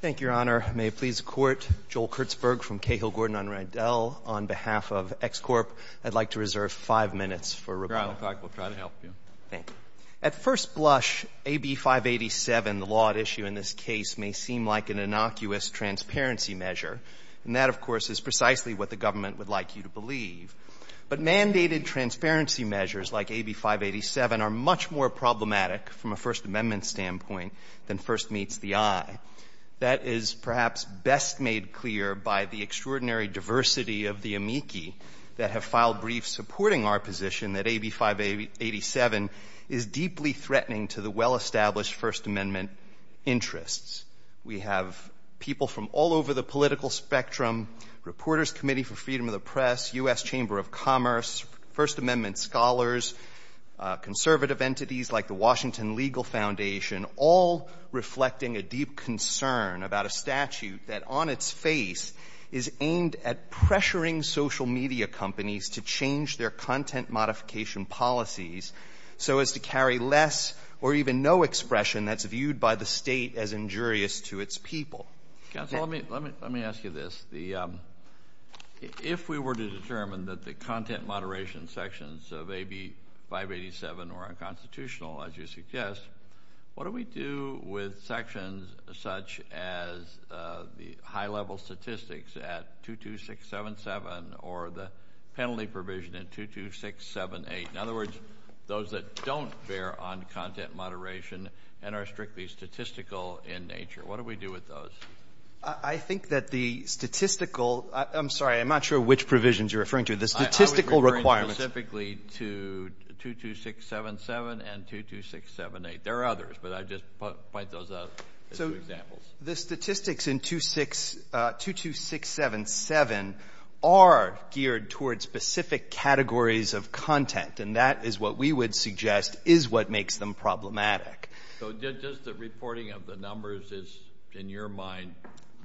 Thank you, Your Honor. May it please the Court, Joel Kurtzberg from Cahill-Gordon on Rydell, on behalf of X Corp., I'd like to reserve five minutes for rebuttal. We'll try to help you. Thank you. At first blush, AB 587, the law at issue in this case, may seem like an innocuous transparency measure. And that, of course, is precisely what the government would like you to believe. But mandated transparency measures like AB 587 are much more problematic from a First Amendment standpoint than first meets the eye. That is perhaps best made clear by the extraordinary diversity of the amici that have filed briefs supporting our position that AB 587 is deeply threatening to the well-established First Amendment interests. We have people from all over the political spectrum, Reporters' Committee for Freedom of the Press, U.S. Chamber of Commerce, First Amendment scholars, conservative entities like the Washington Legal Foundation, all reflecting a deep concern about a statute that on its face is aimed at pressuring social media companies to change their content modification policies so as to carry less or even no expression that's viewed by the state as injurious to its people. Counsel, let me ask you this. If we were to determine that the content moderation sections of AB 587 were unconstitutional, as you suggest, what do we do with sections such as the high-level statistics at 22677 or the penalty provision at 22678? In other words, those that don't bear on content moderation and are strictly statistical in nature. What do we do with those? I think that the statistical—I'm sorry, I'm not sure which provisions you're referring to. The statistical requirements— I was referring specifically to 22677 and 22678. There are others, but I just point those out as examples. The statistics in 22677 are geared toward specific categories of content, and that is what we would suggest is what makes them problematic. So does the reporting of the numbers, in your mind,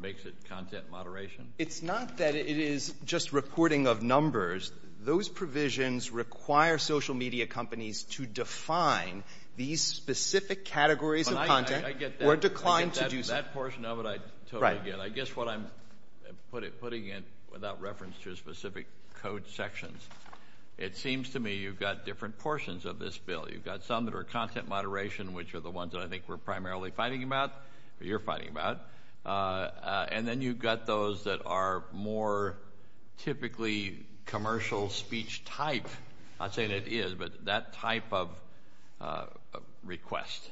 makes it content moderation? It's not that it is just reporting of numbers. Those provisions require social media companies to define these specific categories of content or decline to do so. I get that portion of it, I totally get it. I guess what I'm putting in without reference to specific code sections, it seems to me you've got different portions of this bill. You've got some that are content moderation, which are the ones that I think we're primarily fighting about, or you're fighting about, and then you've got those that are more typically commercial speech type. I'm not saying it is, but that type of request.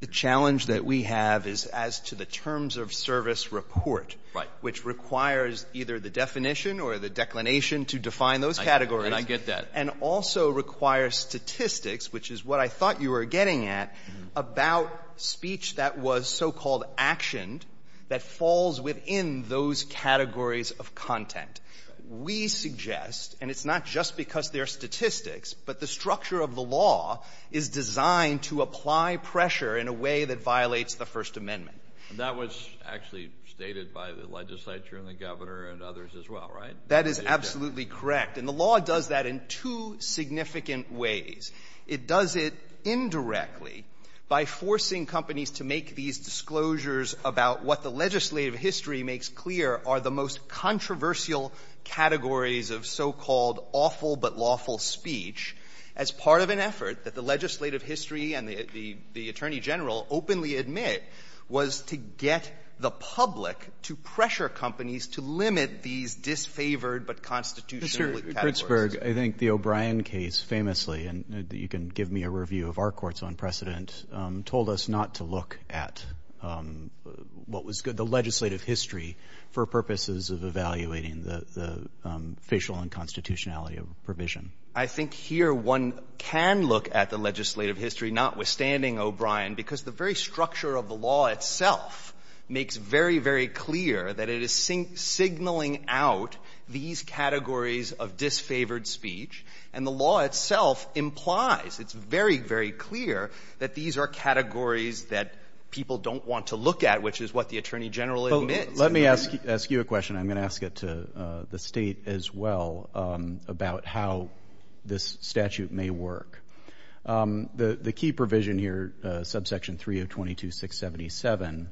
The challenge that we have is as to the terms of service report, which requires either the definition or the declination to define those categories. And I get that. And also requires statistics, which is what I thought you were getting at, about speech that was so-called actioned that falls within those categories of content. We suggest, and it's not just because they're statistics, but the structure of the law is designed to apply pressure in a way that violates the First Amendment. And that was actually stated by the legislature and the governor and others as well, right? That is absolutely correct. And the law does that in two significant ways. It does it indirectly by forcing companies to make these disclosures about what the legislative history makes clear are the most controversial categories of so-called awful-but-lawful speech as part of an effort that the legislative history and the attorney-general openly admit was to get the public to pressure companies to limit these disfavored-but-constitutional Roberts, I think the O'Brien case famously, and you can give me a review of our court's own precedent, told us not to look at what was the legislative history for purposes of evaluating the facial unconstitutionality of a provision. I think here one can look at the legislative history, notwithstanding O'Brien, because the very structure of the law itself makes very, very clear that it is signaling out these categories of disfavored speech, and the law itself implies, it's very, very clear that these are categories that people don't want to look at, which is what the attorney-general admits. Let me ask you a question. I'm going to ask it to the State as well about how this statute may work. The key provision here, subsection 3022-677,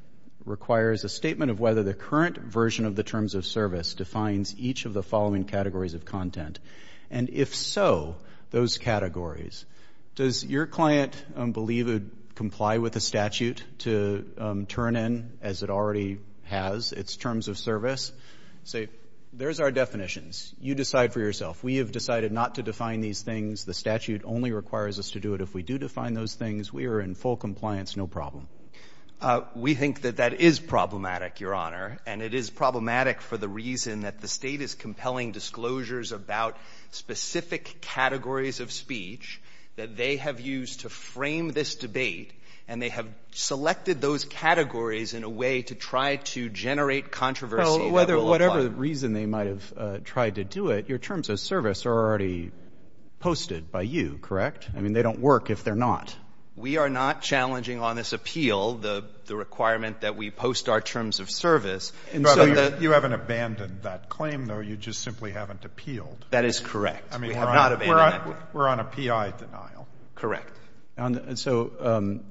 requires a statement of whether the current version of the terms of service defines each of the following categories of content, and if so, those categories. Does your client believe it would comply with the statute to turn in, as it already has, its terms of service? Say, there's our definitions. You decide for yourself. We have decided not to define these things. The statute only requires us to do it. If we do define those things, we are in full compliance, no problem. We think that that is problematic, Your Honor, and it is problematic for the reason that the State is compelling disclosures about specific categories of speech that they have used to frame this debate, and they have selected those categories in a way to try to generate controversy that will apply. Well, whatever reason they might have tried to do it, your terms of service are already posted by you, correct? I mean, they don't work if they're not. We are not challenging on this appeal the requirement that we post our terms of service. And so you haven't abandoned that claim, though. You just simply haven't appealed. That is correct. I mean, we're on a PI denial. Correct. And so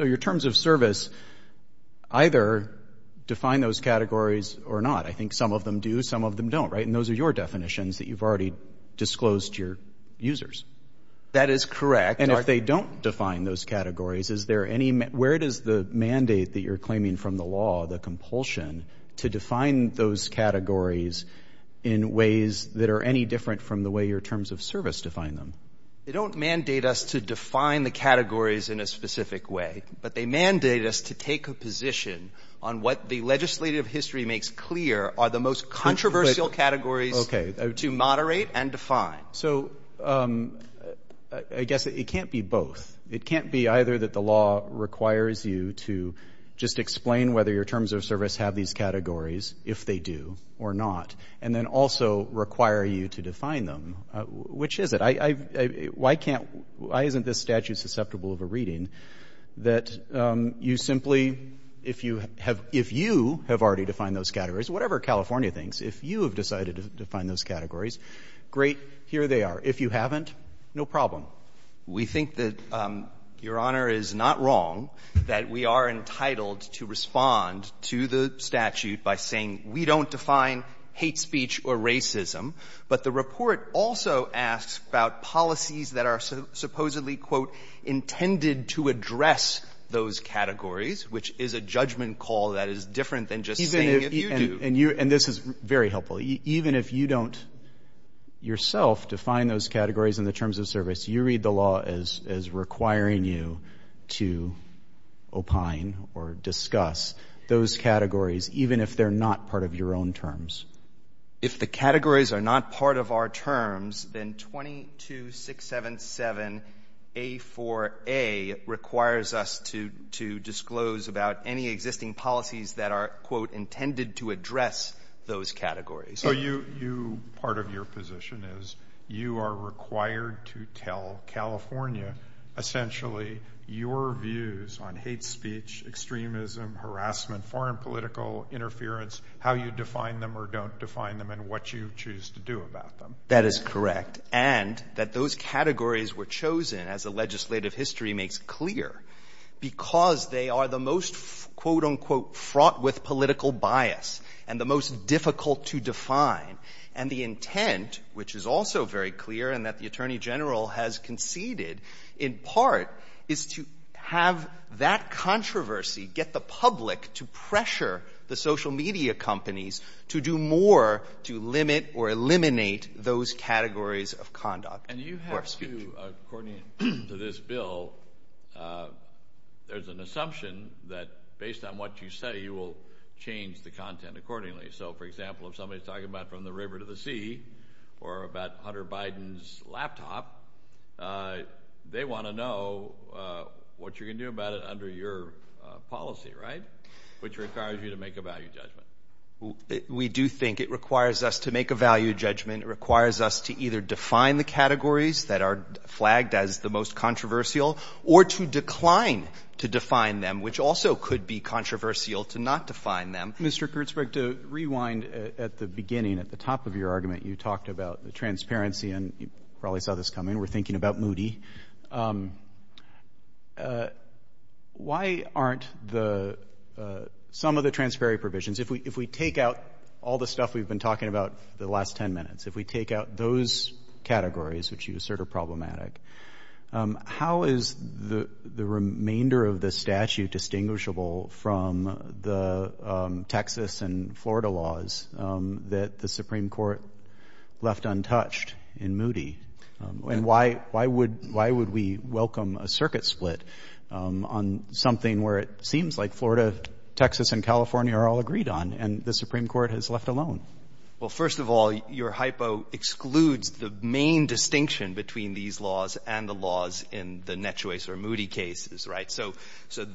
your terms of service either define those categories or not. I think some of them do, some of them don't, right? And those are your definitions that you've already disclosed to your users. That is correct. And if they don't define those categories, where does the mandate that you're claiming from the law, the compulsion, to define those categories in ways that are any different from the way your terms of service define them? They don't mandate us to define the categories in a specific way, but they mandate us to take a position on what the legislative history makes clear are the most controversial categories to moderate and define. So I guess it can't be both. It can't be either that the law requires you to just explain whether your terms of service have these categories, if they do or not, and then also require you to define them. Which is it? Why can't, why isn't this statute susceptible of a reading that you simply, if you have, if you have already defined those categories, whatever California thinks, if you have decided to define those categories, great. Here they are. If you haven't, no problem. We think that, Your Honor, it is not wrong that we are entitled to respond to the statute by saying we don't define hate speech or racism, but the report also asks about policies that are supposedly, quote, intended to address those categories, which is a judgment call that is different than just saying if you do. And this is very helpful. Even if you don't yourself define those categories in the terms of service, you read the law as requiring you to opine or discuss those categories, even if they're not part of your own terms. If the categories are not part of our terms, then 22-677-A4A requires us to disclose about any existing policies that are, quote, intended to address those categories. So you, part of your position is you are required to tell California essentially your views on hate speech, extremism, harassment, foreign political interference, how you define them or don't define them, and what you choose to do about them. That is correct. And that those categories were chosen, as the legislative history makes clear, because they are the most, quote, unquote, fraught with political bias and the most difficult to define. And the intent, which is also very clear and that the Attorney General has conceded in part, is to have that controversy get the public to pressure the social media companies to do more to limit or eliminate those categories of conduct. And you have to, according to this bill, there's an assumption that based on what you say, you will change the content accordingly. So, for example, if somebody's talking about from the river to the sea or about Hunter Biden's laptop, they want to know what you're going to do about it under your policy, right, which requires you to make a value judgment. We do think it requires us to make a value judgment. It requires us to either define the categories that are flagged as the most controversial or to decline to define them, which also could be controversial to not define them. Mr. Kurtzberg, to rewind at the beginning, at the top of your argument, you talked about the transparency, and you probably saw this coming. We're thinking about Moody. Why aren't the — some of the transparency provisions, if we take out all the stuff we've been talking about for the last 10 minutes, if we take out those categories which you assert are problematic, how is the remainder of the statute distinguishable from the Texas and Florida laws that the Supreme Court left untouched in Moody? And why would we welcome a circuit split on something where it seems like Florida, Texas, and California are all agreed on and the Supreme Court has left alone? Well, first of all, your hypo excludes the main distinction between these laws and the laws in the Net Choice or Moody cases, right? So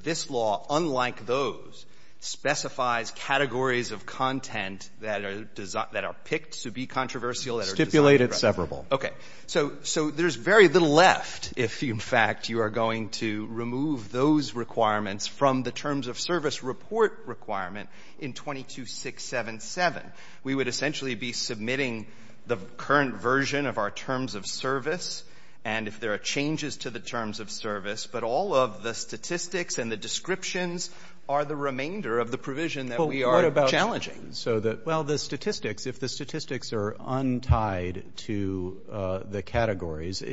this law, unlike those, specifies categories of content that are picked to be controversial and are designed to be controversial. Stipulate it severable. Okay. So there's very little left if, in fact, you are going to remove those requirements from the terms of service report requirement in 22677. We would essentially be submitting the current version of our terms of service and if there are changes to the terms of service. But all of the statistics and the descriptions are the remainder of the provision that we are challenging. Well, what about so that — well, the statistics, if the statistics are untied to the categories,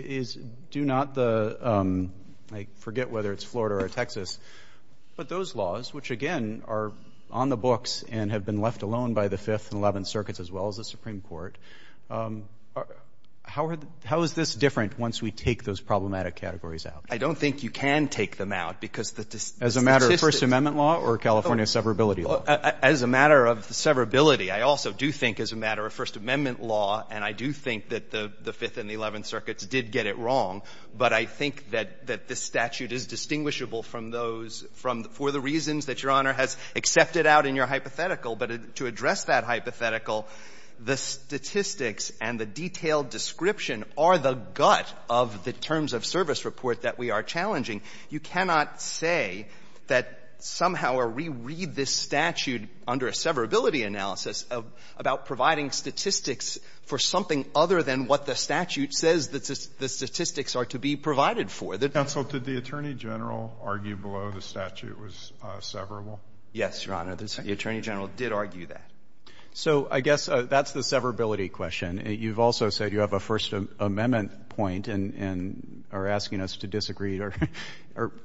do not the — I forget whether it's Florida or Texas, but those laws, which, again, are on the books and have been left alone by the Fifth and Eleventh Circuits as well as the Supreme Court, how is this different once we take those problematic categories out? I don't think you can take them out because the statistics — As a matter of First Amendment law or California severability law? As a matter of severability, I also do think as a matter of First Amendment law and I do think that the Fifth and the Eleventh Circuits did get it wrong, but I think that this statute is distinguishable from those — from — for the reasons that Your Honor has accepted out in your hypothetical. But to address that hypothetical, the statistics and the detailed description are the gut of the terms of service report that we are challenging. You cannot say that somehow we read this statute under a severability analysis about providing statistics for something other than what the statute says the statistics are to be provided for. Counsel, did the Attorney General argue below the statute was severable? Yes, Your Honor. The Attorney General did argue that. So I guess that's the severability question. You've also said you have a First Amendment point and are asking us to disagree or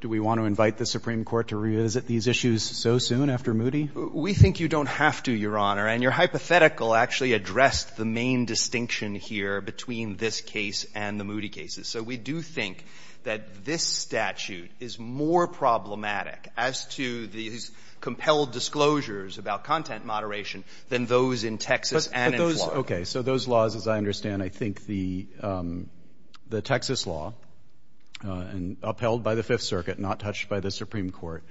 do we want to invite the Supreme Court to revisit these issues so soon after Moody? We think you don't have to, Your Honor. And your hypothetical actually addressed the main distinction here between this case and the Moody cases. So we do think that this statute is more problematic as to these compelled disclosures about content moderation than those in Texas and in Florida. But those — okay. So those laws, as I understand, I think the Texas law, upheld by the Fifth Circuit, not touched by the Supreme Court,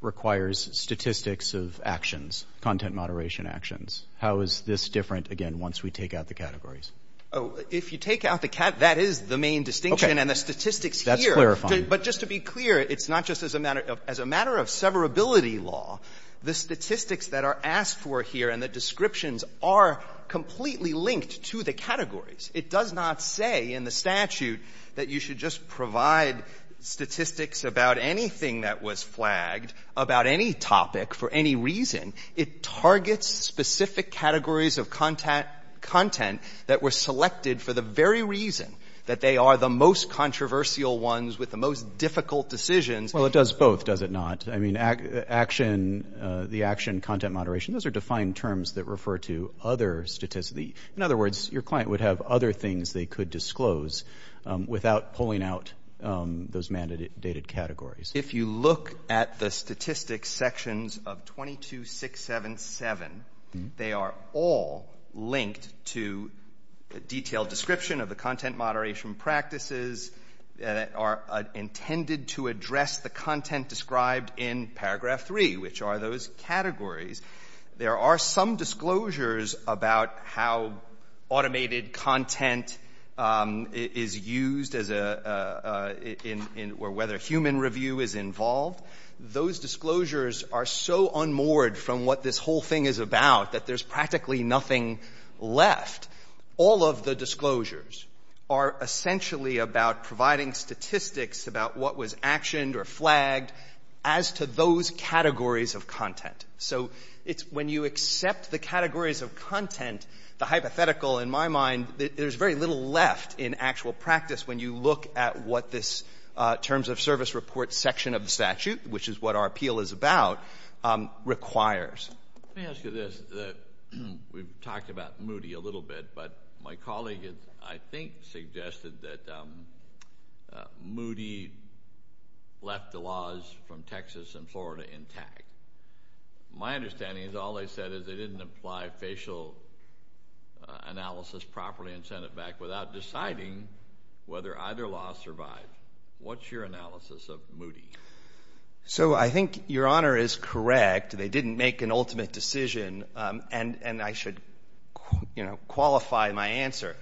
requires statistics of actions, content moderation actions. How is this different, again, once we take out the categories? Oh, if you take out the — that is the main distinction. And the statistics here — That's clarifying. But just to be clear, it's not just as a matter of — as a matter of severability law. The statistics that are asked for here and the descriptions are completely linked to the categories. It does not say in the statute that you should just provide statistics about anything that was flagged, about any topic for any reason. It targets specific categories of content that were selected for the very reason that they are the most controversial ones with the most difficult decisions. Well, it does both, does it not? I mean, action — the action, content moderation, those are defined terms that refer to other statistics. In other words, your client would have other things they could disclose without pulling out those mandated categories. If you look at the statistics sections of 22-677, they are all linked to a detailed description of the content moderation practices that are intended to address the content described in paragraph three, which are those categories. There are some disclosures about how automated content is used as a — or whether human review is involved. Those disclosures are so unmoored from what this whole thing is about that there's practically nothing left. All of the disclosures are essentially about providing statistics about what was actioned or flagged as to those categories of content. So it's — when you accept the categories of content, the hypothetical, in my mind, there's very little left in actual practice when you look at what this terms of service report section of the statute, which is what our appeal is about, requires. Let me ask you this. We've talked about Moody a little bit, but my colleague, I think, suggested that Moody left the laws from Texas and Florida intact. My understanding is all they said is they didn't apply facial analysis properly and send it back without deciding whether either law survived. What's your analysis of Moody? So I think Your Honor is correct. They didn't make an ultimate decision, and I should, you know, qualify my answer.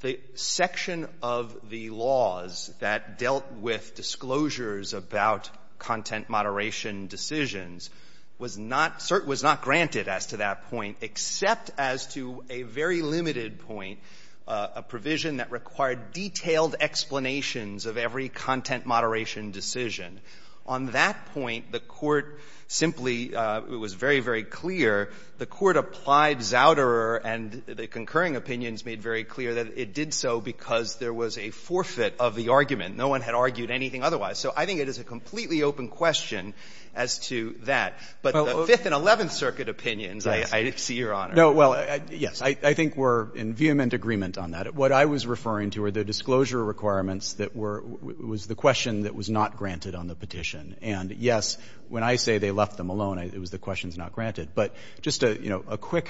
The section of the laws that dealt with disclosures about content moderation decisions was not — was not granted as to that point, except as to a very limited point, a provision that required detailed explanations of every content moderation decision. On that point, the Court simply — it was very, very clear. The Court applied Zouderer, and the concurring opinions made very clear that it did so because there was a forfeit of the argument. No one had argued anything otherwise. So I think it is a completely open question as to that. But the Fifth and Eleventh Circuit opinions, I see, Your Honor. No, well, yes, I think we're in vehement agreement on that. What I was referring to were the disclosure requirements that were — was the question that was not granted on the petition. And, yes, when I say they left them alone, it was the questions not granted. But just a, you know, a quick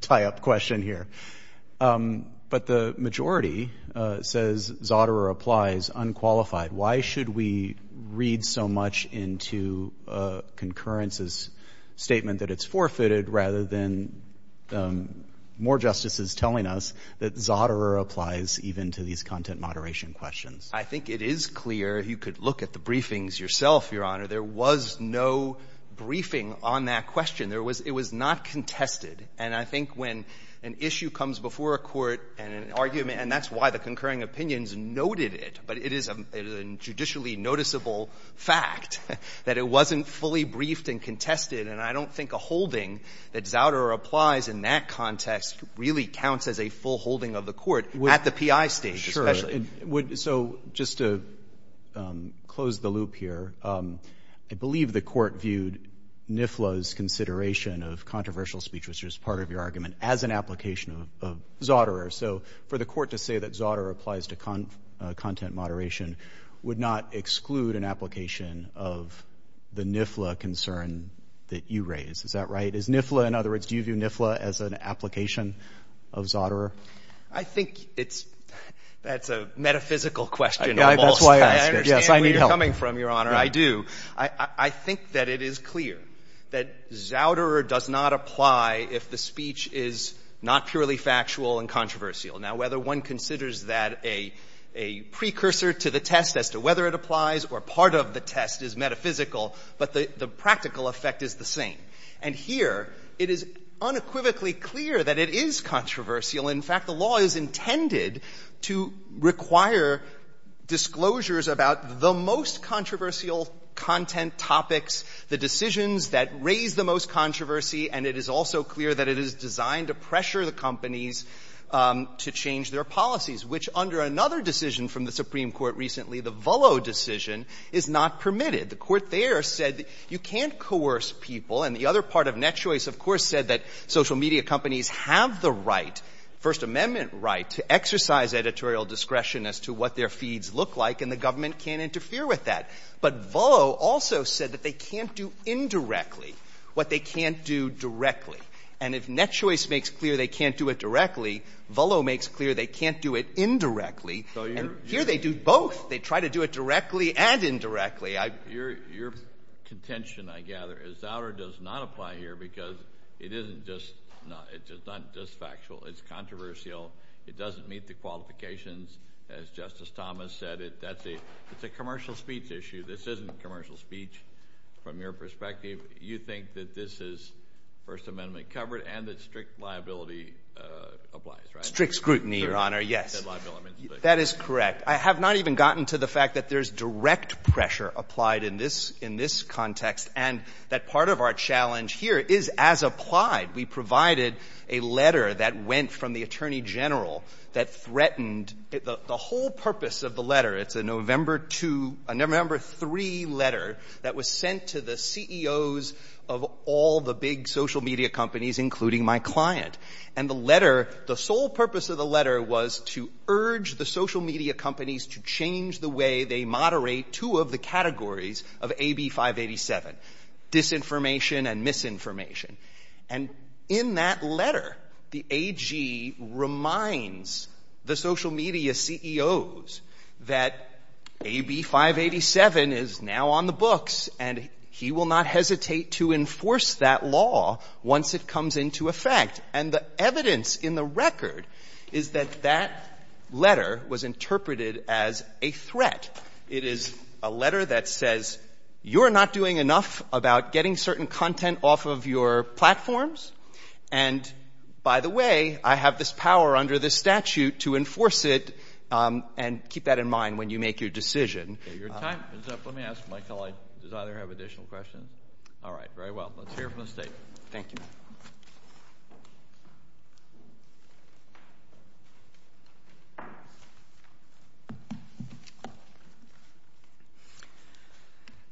tie-up question here. But the majority says Zouderer applies unqualified. Why should we read so much into a concurrence's statement that it's forfeited rather than more justices telling us that Zouderer applies even to these content moderation questions? I think it is clear, if you could look at the briefings yourself, Your Honor, there was no briefing on that question. It was not contested. And I think when an issue comes before a court and an argument — and that's why the concurring opinions noted it, but it is a judicially noticeable fact that it wasn't fully briefed and contested. And I don't think a holding that Zouderer applies in that context really counts as a full holding of the court at the P.I. stage, especially. So just to close the loop here, I believe the court viewed NIFLA's consideration of controversial speech, which was part of your argument, as an application of Zouderer. So for the court to say that Zouderer applies to content moderation would not exclude an application of the NIFLA concern that you raise. Is that right? Is NIFLA — in other words, do you view NIFLA as an application of Zouderer? I think it's — that's a metaphysical question almost. That's why I asked it. Yes, I need help. I understand where you're coming from, Your Honor. I do. I think that it is clear that Zouderer does not apply if the speech is not purely factual and controversial. Now, whether one considers that a precursor to the test as to whether it applies or part of the test is metaphysical, but the practical effect is the same. And here, it is unequivocally clear that it is controversial. In fact, the law is intended to require disclosures about the most controversial content topics, the decisions that raise the most controversy, and it is also clear that it is designed to pressure the companies to change their policies, which, under another decision from the Supreme Court recently, the Vullo decision, is not permitted. The court there said that you can't coerce people, and the other part of Net Choice, of course, said that social media companies have the right, First Amendment right, to exercise editorial discretion as to what their feeds look like, and the government can't interfere with that. But Vullo also said that they can't do indirectly what they can't do directly. And if Net Choice makes clear they can't do it directly, Vullo makes clear they can't do it indirectly. So you're — And here, they do both. They try to do it directly and indirectly. Your contention, I gather, is that it does not apply here because it isn't just — it's not just factual. It's controversial. It doesn't meet the qualifications, as Justice Thomas said. That's a — it's a commercial speech issue. This isn't commercial speech from your perspective. You think that this is First Amendment covered and that strict liability applies, right? Strict scrutiny, Your Honor, yes. That is correct. I have not even gotten to the fact that there's direct pressure applied in this — in this context, and that part of our challenge here is, as applied, we provided a letter that went from the Attorney General that threatened the whole purpose of the letter. It's a November 2 — a November 3 letter that was sent to the CEOs of all the big social media companies, including my client. And the letter — the sole purpose of the letter was to urge the social media companies to change the way they moderate two of the categories of AB 587, disinformation and misinformation. And in that letter, the AG reminds the social media CEOs that AB 587 is now on the books and he will not hesitate to enforce that law once it comes into effect. And the evidence in the record is that that letter was interpreted as a threat. It is a letter that says you're not doing enough about getting certain content off of your platforms, and by the way, I have this power under this statute to enforce it and keep that in mind when you make your decision. Your time is up. Let me ask my colleague, does either have additional questions? All right, very well. Let's hear from the State. Thank you.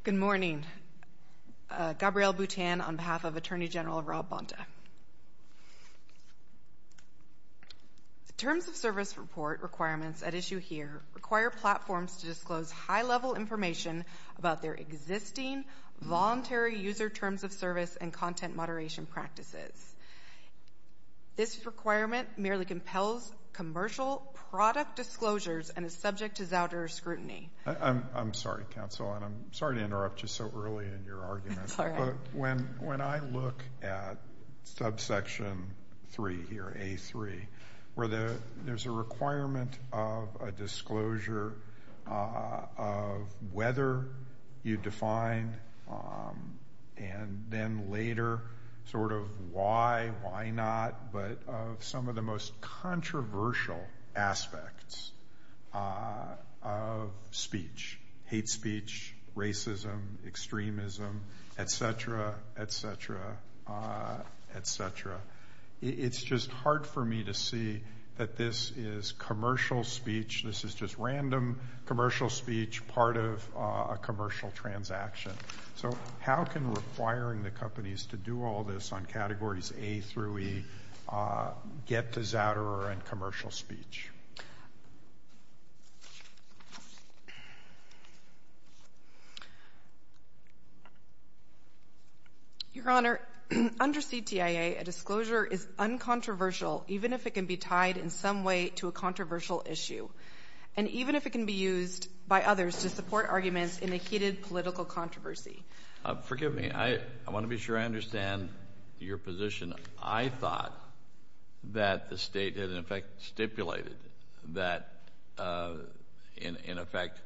Good morning. Gabrielle Boutin on behalf of Attorney General Rob Bonta. Terms of service report requirements at issue here require platforms to disclose high-level information about their existing voluntary user terms of service and content moderation practices. This requirement merely compels commercial product disclosures and is subject to Zouder scrutiny. I'm sorry, counsel, and I'm sorry to interrupt you so early in your argument, but when I look at subsection 3 here, A3, where there's a requirement of a disclosure of whether you define and then later sort of why, why not, but of some of the most controversial aspects of speech, hate speech, racism, extremism, et cetera, et cetera, et cetera, it's just hard for me to see that this is commercial speech, this is just random commercial speech part of a commercial transaction. So how can requiring the companies to do all this on categories A through E get to Zouder and commercial speech? Your Honor, under CTIA, a disclosure is uncontroversial even if it can be tied in some way to a controversial issue and even if it can be used by others to support arguments in a heated political controversy. Forgive me. I want to be sure I understand your position. I thought that the State had, in effect, stipulated that, in effect,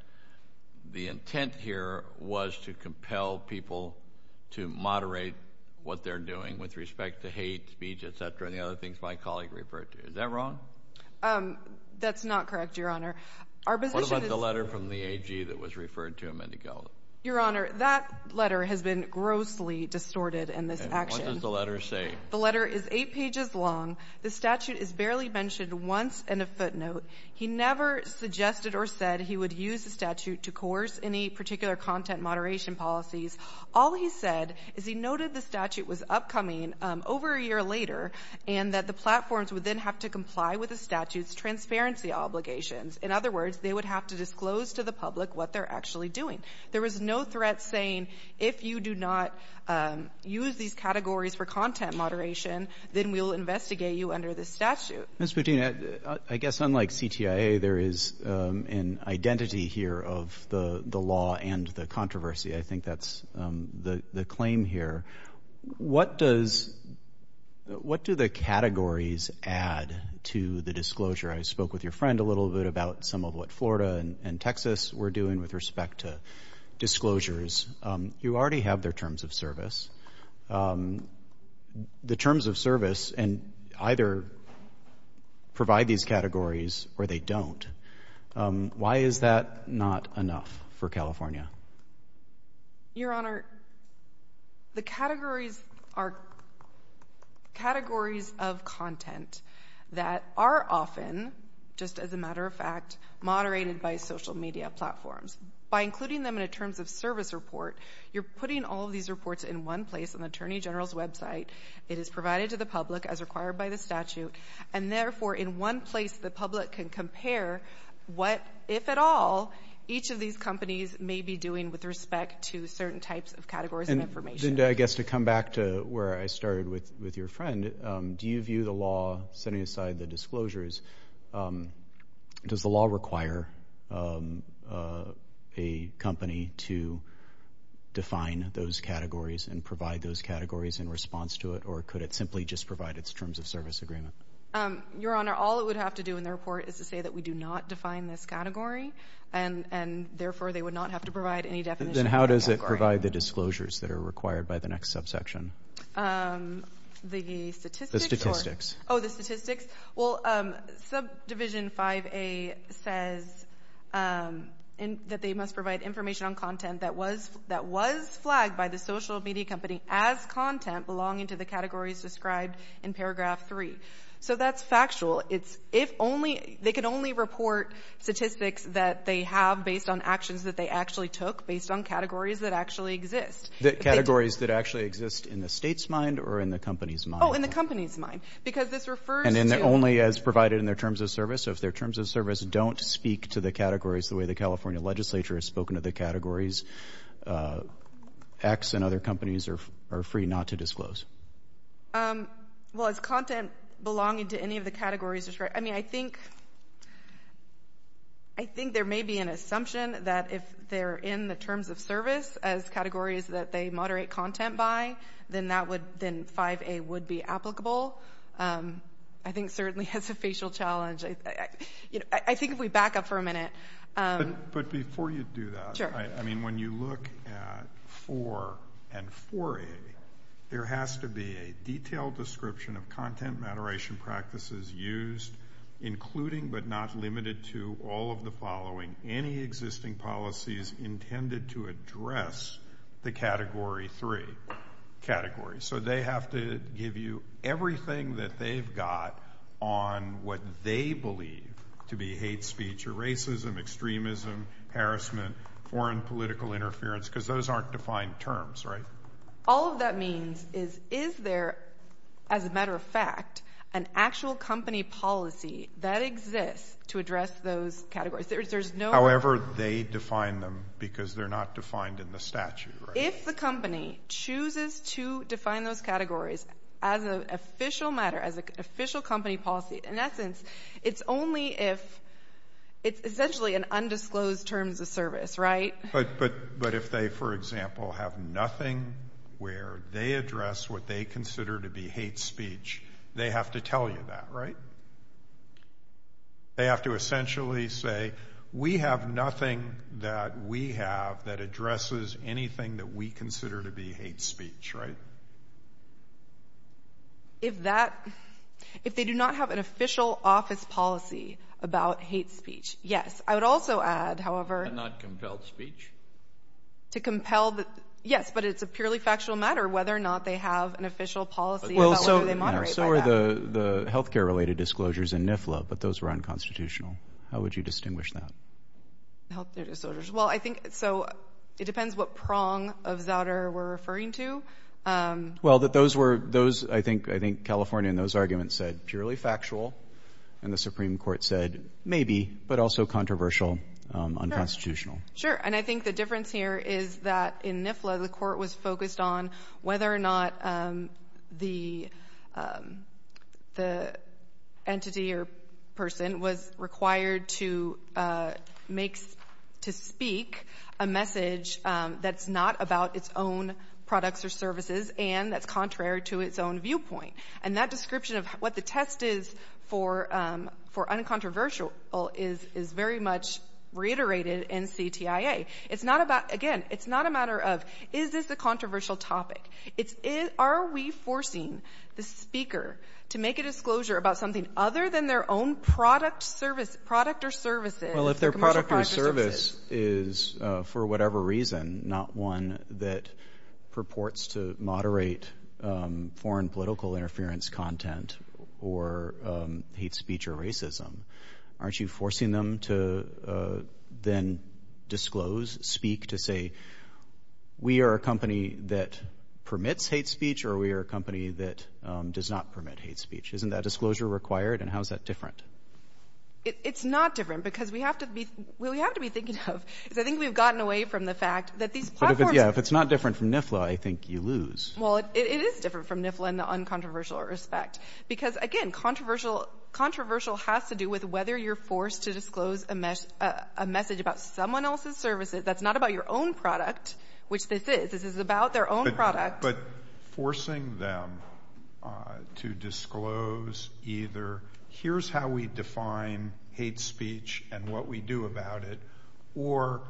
the intent here was to compel people to moderate what they're doing with respect to hate speech, et cetera, and the other things my colleague referred to. Is that wrong? That's not correct, Your Honor. Our position is— What about the letter from the AG that was referred to him a minute ago? Your Honor, that letter has been grossly distorted in this action. And what does the letter say? The letter is eight pages long. The statute is barely mentioned once in a footnote. He never suggested or said he would use the statute to coerce any particular content moderation policies. All he said is he noted the statute was upcoming over a year later and that the platforms would then have to comply with the statute's transparency obligations. In other words, they would have to disclose to the public what they're actually doing. There was no threat saying, if you do not use these categories for content moderation, then we'll investigate you under this statute. Ms. Putina, I guess, unlike CTIA, there is an identity here of the law and the controversy. I think that's the claim here. What does—what do the categories add to the disclosure? I spoke with your friend a little bit about some of what Florida and Texas were doing with respect to disclosures. You already have their terms of service. The terms of service either provide these categories or they don't. Why is that not enough for California? Your Honor, the categories are categories of content that are often, just as a matter of fact, moderated by social media platforms. By including them in a terms of service report, you're putting all of these reports in one place on the Attorney General's website. It is provided to the public as required by the statute, and therefore in one place the public can compare what, if at all, each of these companies may be doing with respect to certain types of categories of information. And, Zinda, I guess to come back to where I started with your friend, do you view the law, setting aside the disclosures, does the law require a company to define those categories and provide those categories in response to it, or could it simply just provide its terms of service agreement? Your Honor, all it would have to do in the report is to say that we do not define this category, and therefore they would not have to provide any definition of the category. Then how does it provide the disclosures that are required by the next subsection? The statistics? The statistics. Oh, the statistics. Well, Subdivision 5A says that they must provide information on content that was flagged by the social media company as content belonging to the categories described in paragraph 3. So that's factual. They can only report statistics that they have based on actions that they actually took, based on categories that actually exist. Categories that actually exist in the State's mind or in the company's mind? Oh, in the company's mind, because this refers to— And only as provided in their terms of service? So if their terms of service don't speak to the categories the way the California Legislature has spoken to the categories, X and other companies are free not to disclose. Well, is content belonging to any of the categories described? I mean, I think there may be an assumption that if they're in the terms of service as categories that they moderate content by, then 5A would be applicable. I think certainly it's a facial challenge. I think if we back up for a minute— But before you do that, I mean, when you look at 4 and 4A, there has to be a detailed description of content moderation practices used, including but not limited to all of the following. Any existing policies intended to address the Category 3 category. So they have to give you everything that they've got on what they believe to be hate speech, or racism, extremism, harassment, foreign political interference, because those aren't defined terms, right? All that means is, is there, as a matter of fact, an actual company policy that exists to address those categories? There's no— However they define them, because they're not defined in the statute, right? If the company chooses to define those categories as an official matter, as an official company policy, in essence, it's only if—it's essentially an undisclosed terms of service, right? But if they, for example, have nothing where they address what they consider to be hate speech, they have to tell you that, right? They have to essentially say, we have nothing that we have that addresses anything that we consider to be hate speech, right? If that—if they do not have an official office policy about hate speech, yes. I would also add, however— And not compelled speech? To compel the—yes, but it's a purely factual matter whether or not they have an official policy about whether they moderate by that. So are the healthcare-related disclosures in NIFLA, but those were unconstitutional. How would you distinguish that? Healthcare disclosures. Well, I think—so it depends what prong of Zouder we're referring to. Well, that those were—those, I think—I think California in those arguments said purely factual, and the Supreme Court said maybe, but also controversial, unconstitutional. Sure, and I think the difference here is that in NIFLA, the court was focused on whether or not the entity or person was required to make—to speak a message that's not about its own products or services and that's contrary to its own viewpoint. And that description of what the test is for uncontroversial is very much reiterated in CTIA. It's not about—again, it's not a matter of, is this a controversial topic? It's, are we forcing the speaker to make a disclosure about something other than their own product, service—product or services— Well, if their product or service is, for whatever reason, not one that purports to moderate foreign political interference content or hate speech or racism, aren't you forcing them to then disclose, speak to say, we are a company that permits hate speech or we are a company that does not permit hate speech? Isn't that disclosure required? And how is that different? It's not different because we have to be—well, we have to be thinking of, because I think we've gotten away from the fact that these platforms— But if it's—yeah, if it's not different from NIFLA, I think you lose. Well, it is different from NIFLA in the uncontroversial respect. Because, again, controversial—controversial has to do with whether you're forced to disclose a message about someone else's services that's not about your own product, which this is. This is about their own product. But forcing them to disclose either here's how we define hate speech and what we do about it, or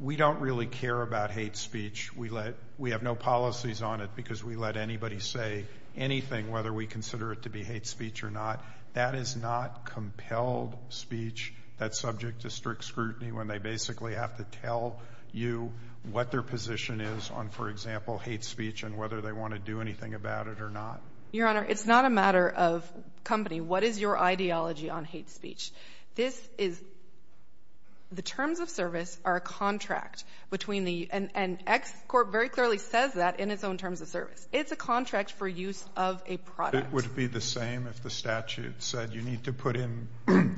we don't really care about hate speech. We let—we have no policies on it because we let anybody say anything, whether we consider it to be hate speech or not. That is not compelled speech that's subject to strict scrutiny when they basically have to tell you what their position is on, for example, hate speech and whether they want to do anything about it or not. Your Honor, it's not a matter of company. What is your ideology on hate speech? This is—the terms of service are a contract between the— and ExCorp very clearly says that in its own terms of service. It's a contract for use of a product. And it would be the same if the statute said you need to put in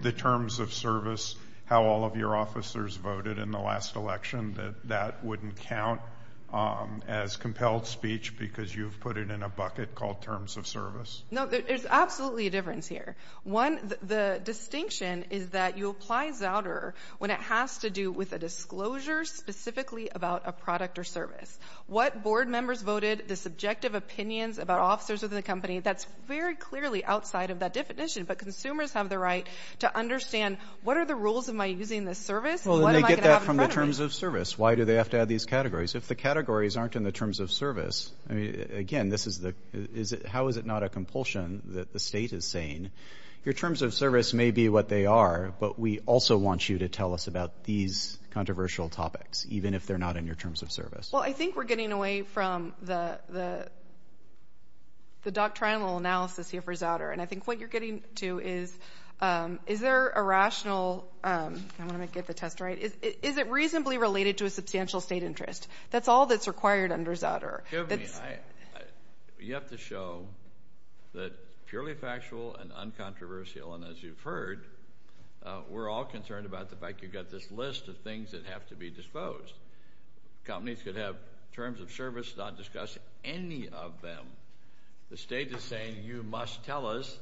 the terms of service how all of your officers voted in the last election, that that wouldn't count as compelled speech because you've put it in a bucket called terms of service? No, there's absolutely a difference here. One, the distinction is that you apply zowder when it has to do with a disclosure specifically about a product or service. What board members voted, the subjective opinions about officers within the company, that's very clearly outside of that definition. But consumers have the right to understand what are the rules? Am I using this service? What am I going to have in front of me? Well, then they get that from the terms of service. Why do they have to have these categories? If the categories aren't in the terms of service, again, this is the— how is it not a compulsion that the state is saying your terms of service may be what they are, but we also want you to tell us about these controversial topics even if they're not in your terms of service? Well, I think we're getting away from the doctrinal analysis here for zowder, and I think what you're getting to is, is there a rational—I want to get the test right. Is it reasonably related to a substantial state interest? That's all that's required under zowder. You have to show that purely factual and uncontroversial, and as you've heard, we're all concerned about the fact you've got this list of things that have to be disposed. Companies could have terms of service, not discuss any of them. The state is saying you must tell us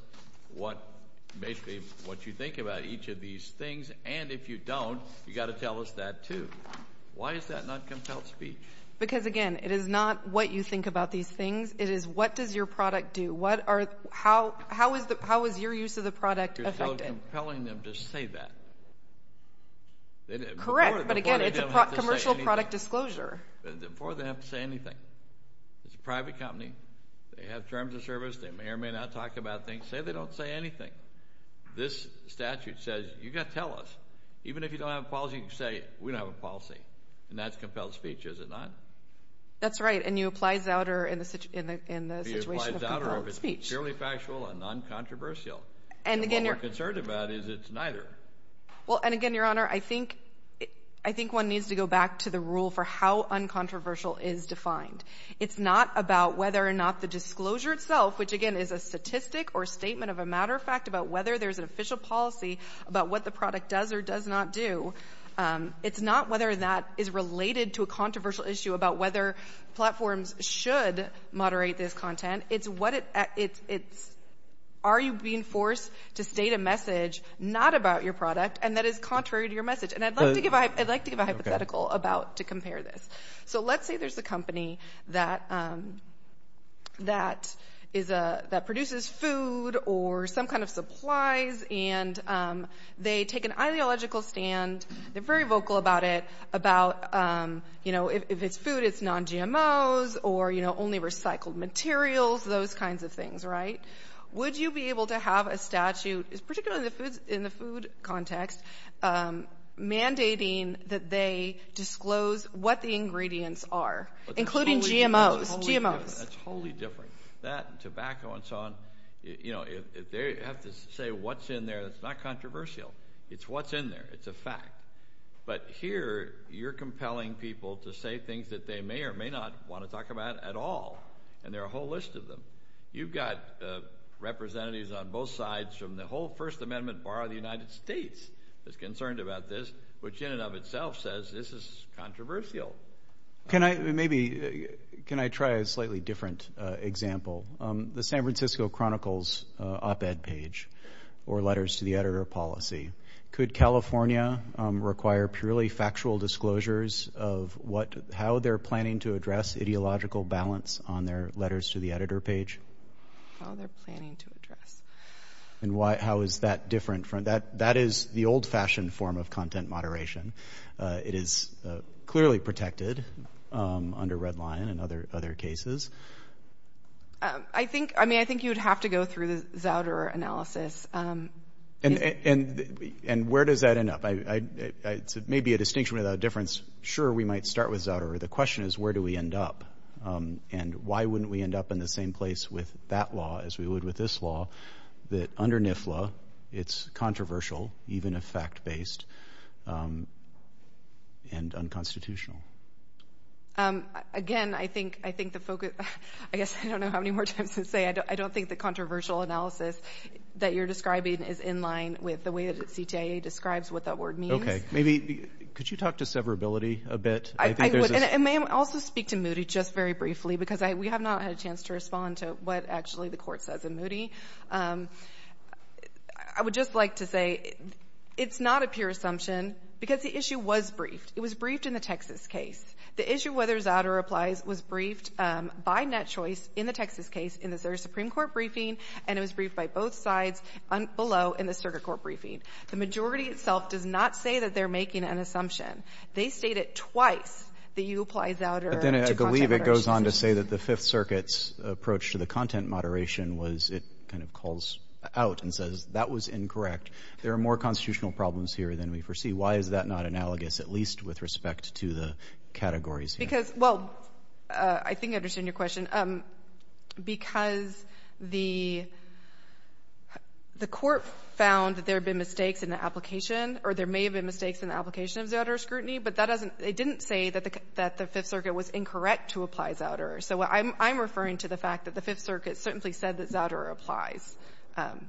what—basically what you think about each of these things, and if you don't, you've got to tell us that, too. Why is that not compelled speech? Because, again, it is not what you think about these things. It is what does your product do? What are—how is your use of the product affected? You're still compelling them to say that. Correct, but again, it's a commercial product disclosure. Before they have to say anything. It's a private company. They have terms of service. They may or may not talk about things. Say they don't say anything. This statute says you've got to tell us. Even if you don't have a policy, you can say we don't have a policy, and that's compelled speech. Is it not? That's right, and you apply zowder in the situation of compelled speech. It's purely factual and uncontroversial, and what you're concerned about is it's neither. Well, and again, Your Honor, I think one needs to go back to the rule for how uncontroversial is defined. It's not about whether or not the disclosure itself, which, again, is a statistic or statement of a matter of fact about whether there's an official policy about what the product does or does not do. It's not whether that is related to a controversial issue about whether platforms should moderate this content. It's are you being forced to state a message not about your product, and that is contrary to your message, and I'd like to give a hypothetical about to compare this. So let's say there's a company that produces food or some kind of supplies, and they take an ideological stand. They're very vocal about it, about, you know, if it's food, it's non-GMOs or, you know, only recycled materials, those kinds of things, right? Would you be able to have a statute, particularly in the food context, mandating that they disclose what the ingredients are, including GMOs? That's totally different. That and tobacco and so on, you know, they have to say what's in there that's not controversial. It's what's in there. It's a fact. But here, you're compelling people to say things that they may or may not want to talk about at all, and there are a whole list of them. You've got representatives on both sides from the whole First Amendment Bar of the United States that's concerned about this, which in and of itself says this is controversial. Can I maybe – can I try a slightly different example? The San Francisco Chronicle's op-ed page or letters to the editor policy. Could California require purely factual disclosures of what – how they're planning to address ideological balance on their letters to the editor page? How they're planning to address. And how is that different from – that is the old-fashioned form of content moderation. It is clearly protected under Redline and other cases. I think – I mean, I think you'd have to go through the Zauderer analysis. And where does that end up? It may be a distinction without a difference. Sure, we might start with Zauderer. The question is where do we end up? And why wouldn't we end up in the same place with that law as we would with this law, that under NIFLA it's controversial even if fact-based and unconstitutional? Again, I think – I think the focus – I guess I don't know how many more times to say. I don't think the controversial analysis that you're describing is in line with the way that CTIA describes what that word means. Maybe – could you talk to severability a bit? I would. And may I also speak to Moody just very briefly? Because we have not had a chance to respond to what actually the court says in Moody. I would just like to say it's not a pure assumption because the issue was briefed. It was briefed in the Texas case. The issue whether Zauderer applies was briefed by NetChoice in the Texas case in the Supreme Court briefing, and it was briefed by both sides below in the circuit court briefing. The majority itself does not say that they're making an assumption. They stated twice that you apply Zauderer to content moderation. But then I believe it goes on to say that the Fifth Circuit's approach to the content moderation was it kind of calls out and says that was incorrect. There are more constitutional problems here than we foresee. Why is that not analogous, at least with respect to the categories here? Because – well, I think I understand your question. Because the court found that there have been mistakes in the application or there may have been mistakes in the application of Zauderer scrutiny, but that doesn't – it didn't say that the Fifth Circuit was incorrect to apply Zauderer. So I'm referring to the fact that the Fifth Circuit certainly said that Zauderer applies.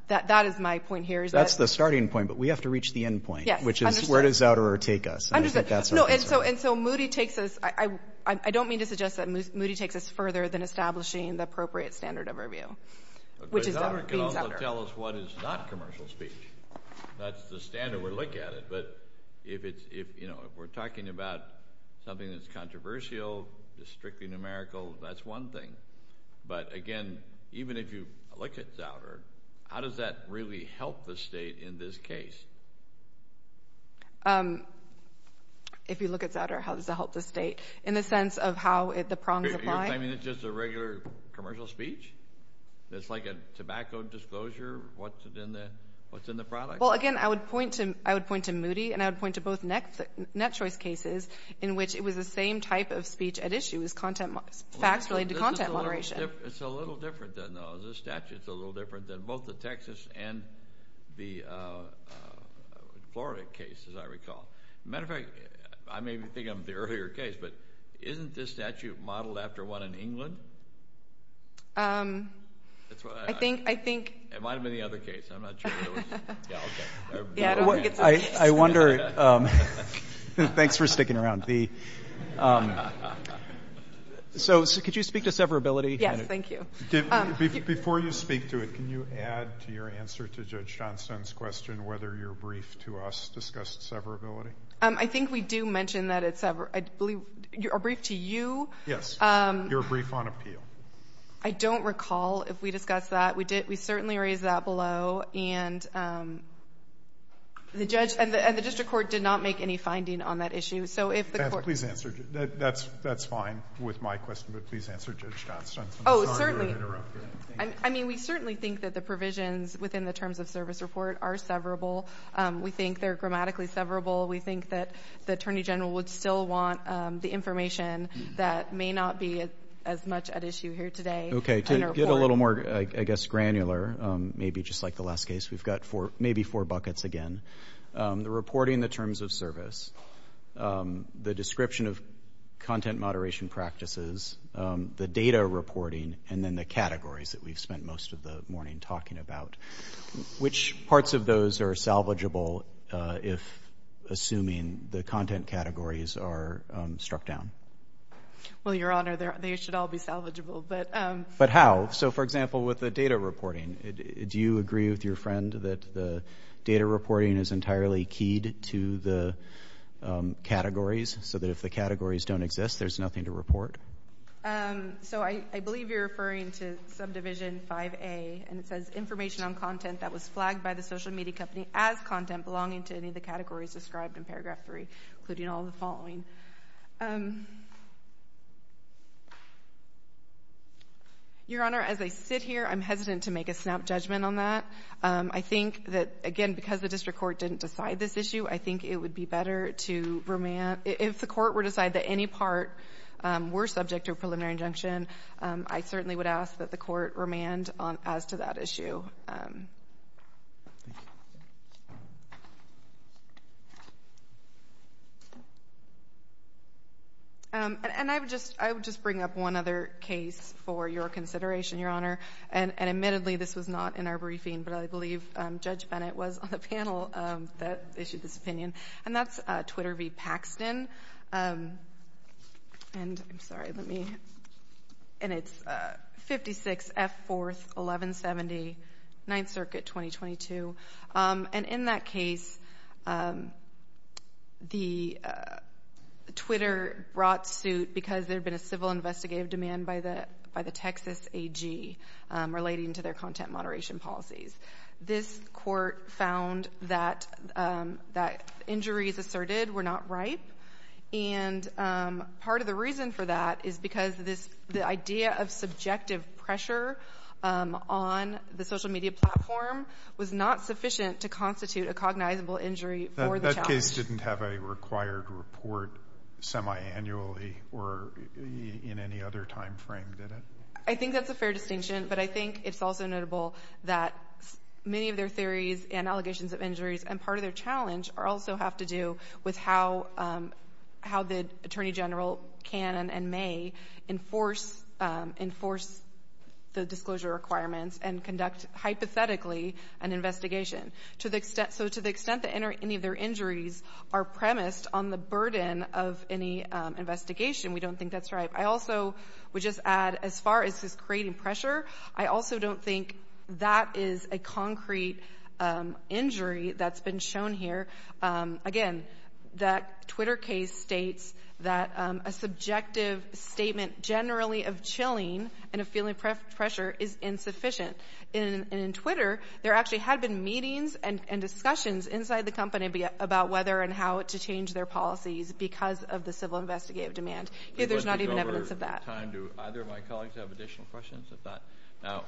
That is my point here. That's the starting point, but we have to reach the end point. Yes, I understand. Which is where does Zauderer take us? I understand. No, and so Moody takes us – I don't mean to suggest that Moody takes us further than establishing the appropriate standard of review, which is being Zauderer. But Zauderer can also tell us what is not commercial speech. That's the standard we're looking at. But if it's – you know, if we're talking about something that's controversial, just strictly numerical, that's one thing. But again, even if you look at Zauderer, how does that really help the state in this case? If you look at Zauderer, how does it help the state in the sense of how the prongs apply? You're claiming it's just a regular commercial speech? It's like a tobacco disclosure? What's in the product? Well, again, I would point to Moody and I would point to both Net Choice cases in which it was the same type of speech at issue. It was content – facts related to content moderation. It's a little different than those. The statute's a little different than both the Texas and the Florida case, as I recall. As a matter of fact, I may be thinking of the earlier case, but isn't this statute modeled after one in England? I think – It might have been the other case. I'm not sure. Yeah, okay. Yeah, I don't think it's the case. I wonder – thanks for sticking around. So could you speak to severability? Yes, thank you. Before you speak to it, can you add to your answer to Judge Johnston's question whether your brief to us discussed severability? I think we do mention that it's – I believe our brief to you. Yes. Your brief on appeal. I don't recall if we discussed that. We did – we certainly raised that below, and the judge – and the district court did not make any finding on that issue. So if the court – Please answer. That's fine with my question, but please answer Judge Johnston's. Oh, certainly. I'm sorry to interrupt you. I mean, we certainly think that the provisions within the terms of service report are severable. We think they're grammatically severable. We think that the attorney general would still want the information that may not be as much at issue here today. Okay. To get a little more, I guess, granular, maybe just like the last case, we've got four – maybe four buckets again. The reporting the terms of service, the description of content moderation practices, the data reporting, and then the categories that we've spent most of the morning talking about. Which parts of those are salvageable if assuming the content categories are struck down? Well, Your Honor, they should all be salvageable, but – But how? So, for example, with the data reporting, do you agree with your friend that the data reporting is entirely keyed to the categories, so that if the categories don't exist, there's nothing to report? So, I believe you're referring to subdivision 5A, and it says, information on content that was flagged by the social media company as content belonging to any of the categories described in paragraph 3, including all the following. Your Honor, as I sit here, I'm hesitant to make a snap judgment on that. I think that, again, because the district court didn't decide this issue, I think it would be better to remand – if the court were to decide that any part were subject to a preliminary injunction, I certainly would ask that the court remand as to that issue. And I would just bring up one other case for your consideration, Your Honor, and admittedly, this was not in our briefing, but I believe Judge Bennett was on the panel that issued this opinion, and that's Twitter v. Paxton, and it's 56 F. 4th, 1170, 9th Circuit, 2022. And in that case, Twitter brought suit because there had been a civil investigative demand by the Texas AG relating to their content moderation policies. This court found that injuries asserted were not ripe, and part of the reason for that is because the idea of subjective pressure on the social media platform was not sufficient to constitute a cognizable injury for the challenge. That case didn't have a required report semiannually or in any other time frame, did it? I think that's a fair distinction, but I think it's also notable that many of their theories and allegations of injuries and part of their challenge also have to do with how the Attorney General can and may enforce the disclosure requirements and conduct, hypothetically, an investigation. So to the extent that any of their injuries are premised on the burden of any investigation, we don't think that's ripe. I also would just add, as far as just creating pressure, I also don't think that is a concrete injury that's been shown here. Again, that Twitter case states that a subjective statement generally of chilling and of feeling pressure is insufficient. And in Twitter, there actually had been meetings and discussions inside the company about whether and how to change their policies because of the civil investigative demand. There's not even evidence of that. Do either of my colleagues have additional questions at that? Now,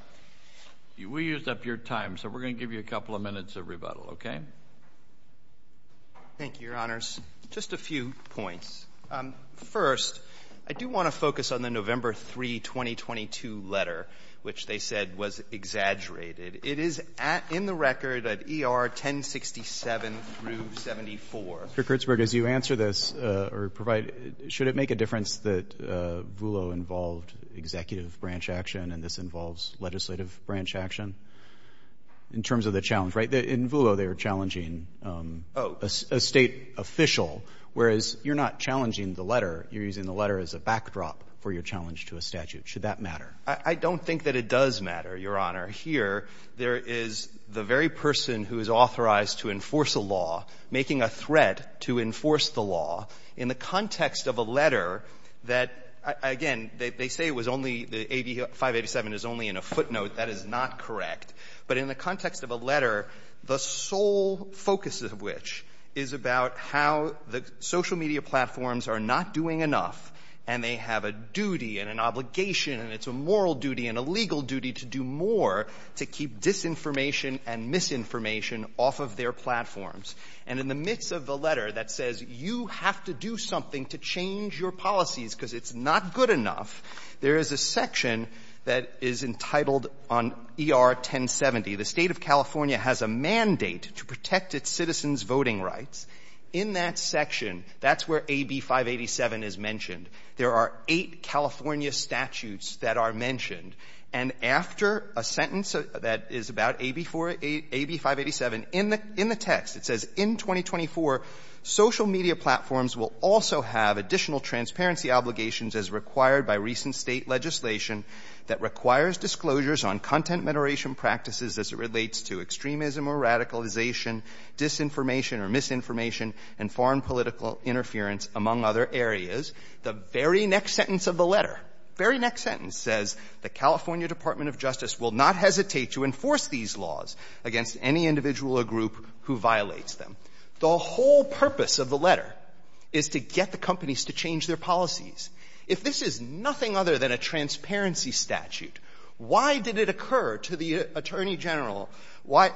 we used up your time, so we're going to give you a couple of minutes of rebuttal. Okay? Thank you, Your Honors. Just a few points. First, I do want to focus on the November 3, 2022 letter, which they said was exaggerated. It is in the record at ER 1067 through 74. Mr. Kurtzberg, as you answer this, should it make a difference that Voolo involved executive branch action and this involves legislative branch action in terms of the challenge, right? In Voolo, they were challenging a State official, whereas you're not challenging the letter. You're using the letter as a backdrop for your challenge to a statute. Should that matter? I don't think that it does matter, Your Honor. Here, there is the very person who is authorized to enforce a law making a threat to enforce the law in the context of a letter that, again, they say it was only the 587 is only in a footnote. That is not correct. But in the context of a letter, the sole focus of which is about how the social media platforms are not doing enough and they have a duty and an obligation and it's a moral duty and a legal duty to do more to keep disinformation and misinformation off of their platforms. And in the midst of the letter that says you have to do something to change your policies because it's not good enough, there is a section that is entitled on ER 1070. The State of California has a mandate to protect its citizens' voting rights. In that section, that's where AB 587 is mentioned. There are eight California statutes that are mentioned. And after a sentence that is about AB 587 in the text, it says, In 2024, social media platforms will also have additional transparency obligations as required by recent State legislation that requires disclosures on content moderation practices as it relates to extremism or radicalization, disinformation or misinformation, and foreign political interference, among other areas. The very next sentence of the letter, very next sentence, says, The California Department of Justice will not hesitate to enforce these laws against any individual or group who violates them. The whole purpose of the letter is to get the companies to change their policies. If this is nothing other than a transparency statute, why did it occur to the Attorney General, why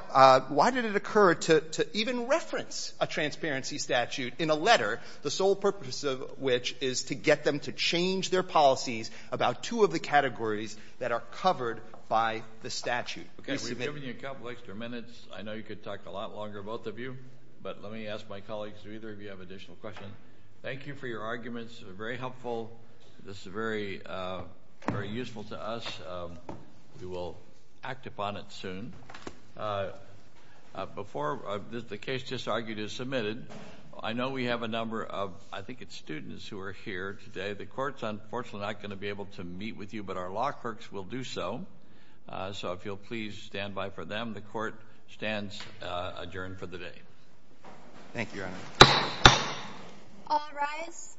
did it occur to even reference a transparency statute in a letter, the sole purpose of which is to get them to change their policies about two of the categories that are covered by the statute? Okay, we've given you a couple extra minutes. I know you could talk a lot longer, both of you, but let me ask my colleagues, if either of you have additional questions. Thank you for your arguments. They're very helpful. This is very useful to us. We will act upon it soon. Before the case just argued is submitted, I know we have a number of, I think it's students who are here today. The court's unfortunately not going to be able to meet with you, but our law clerks will do so. So if you'll please stand by for them. The court stands adjourned for the day. Thank you, Your Honor. All rise.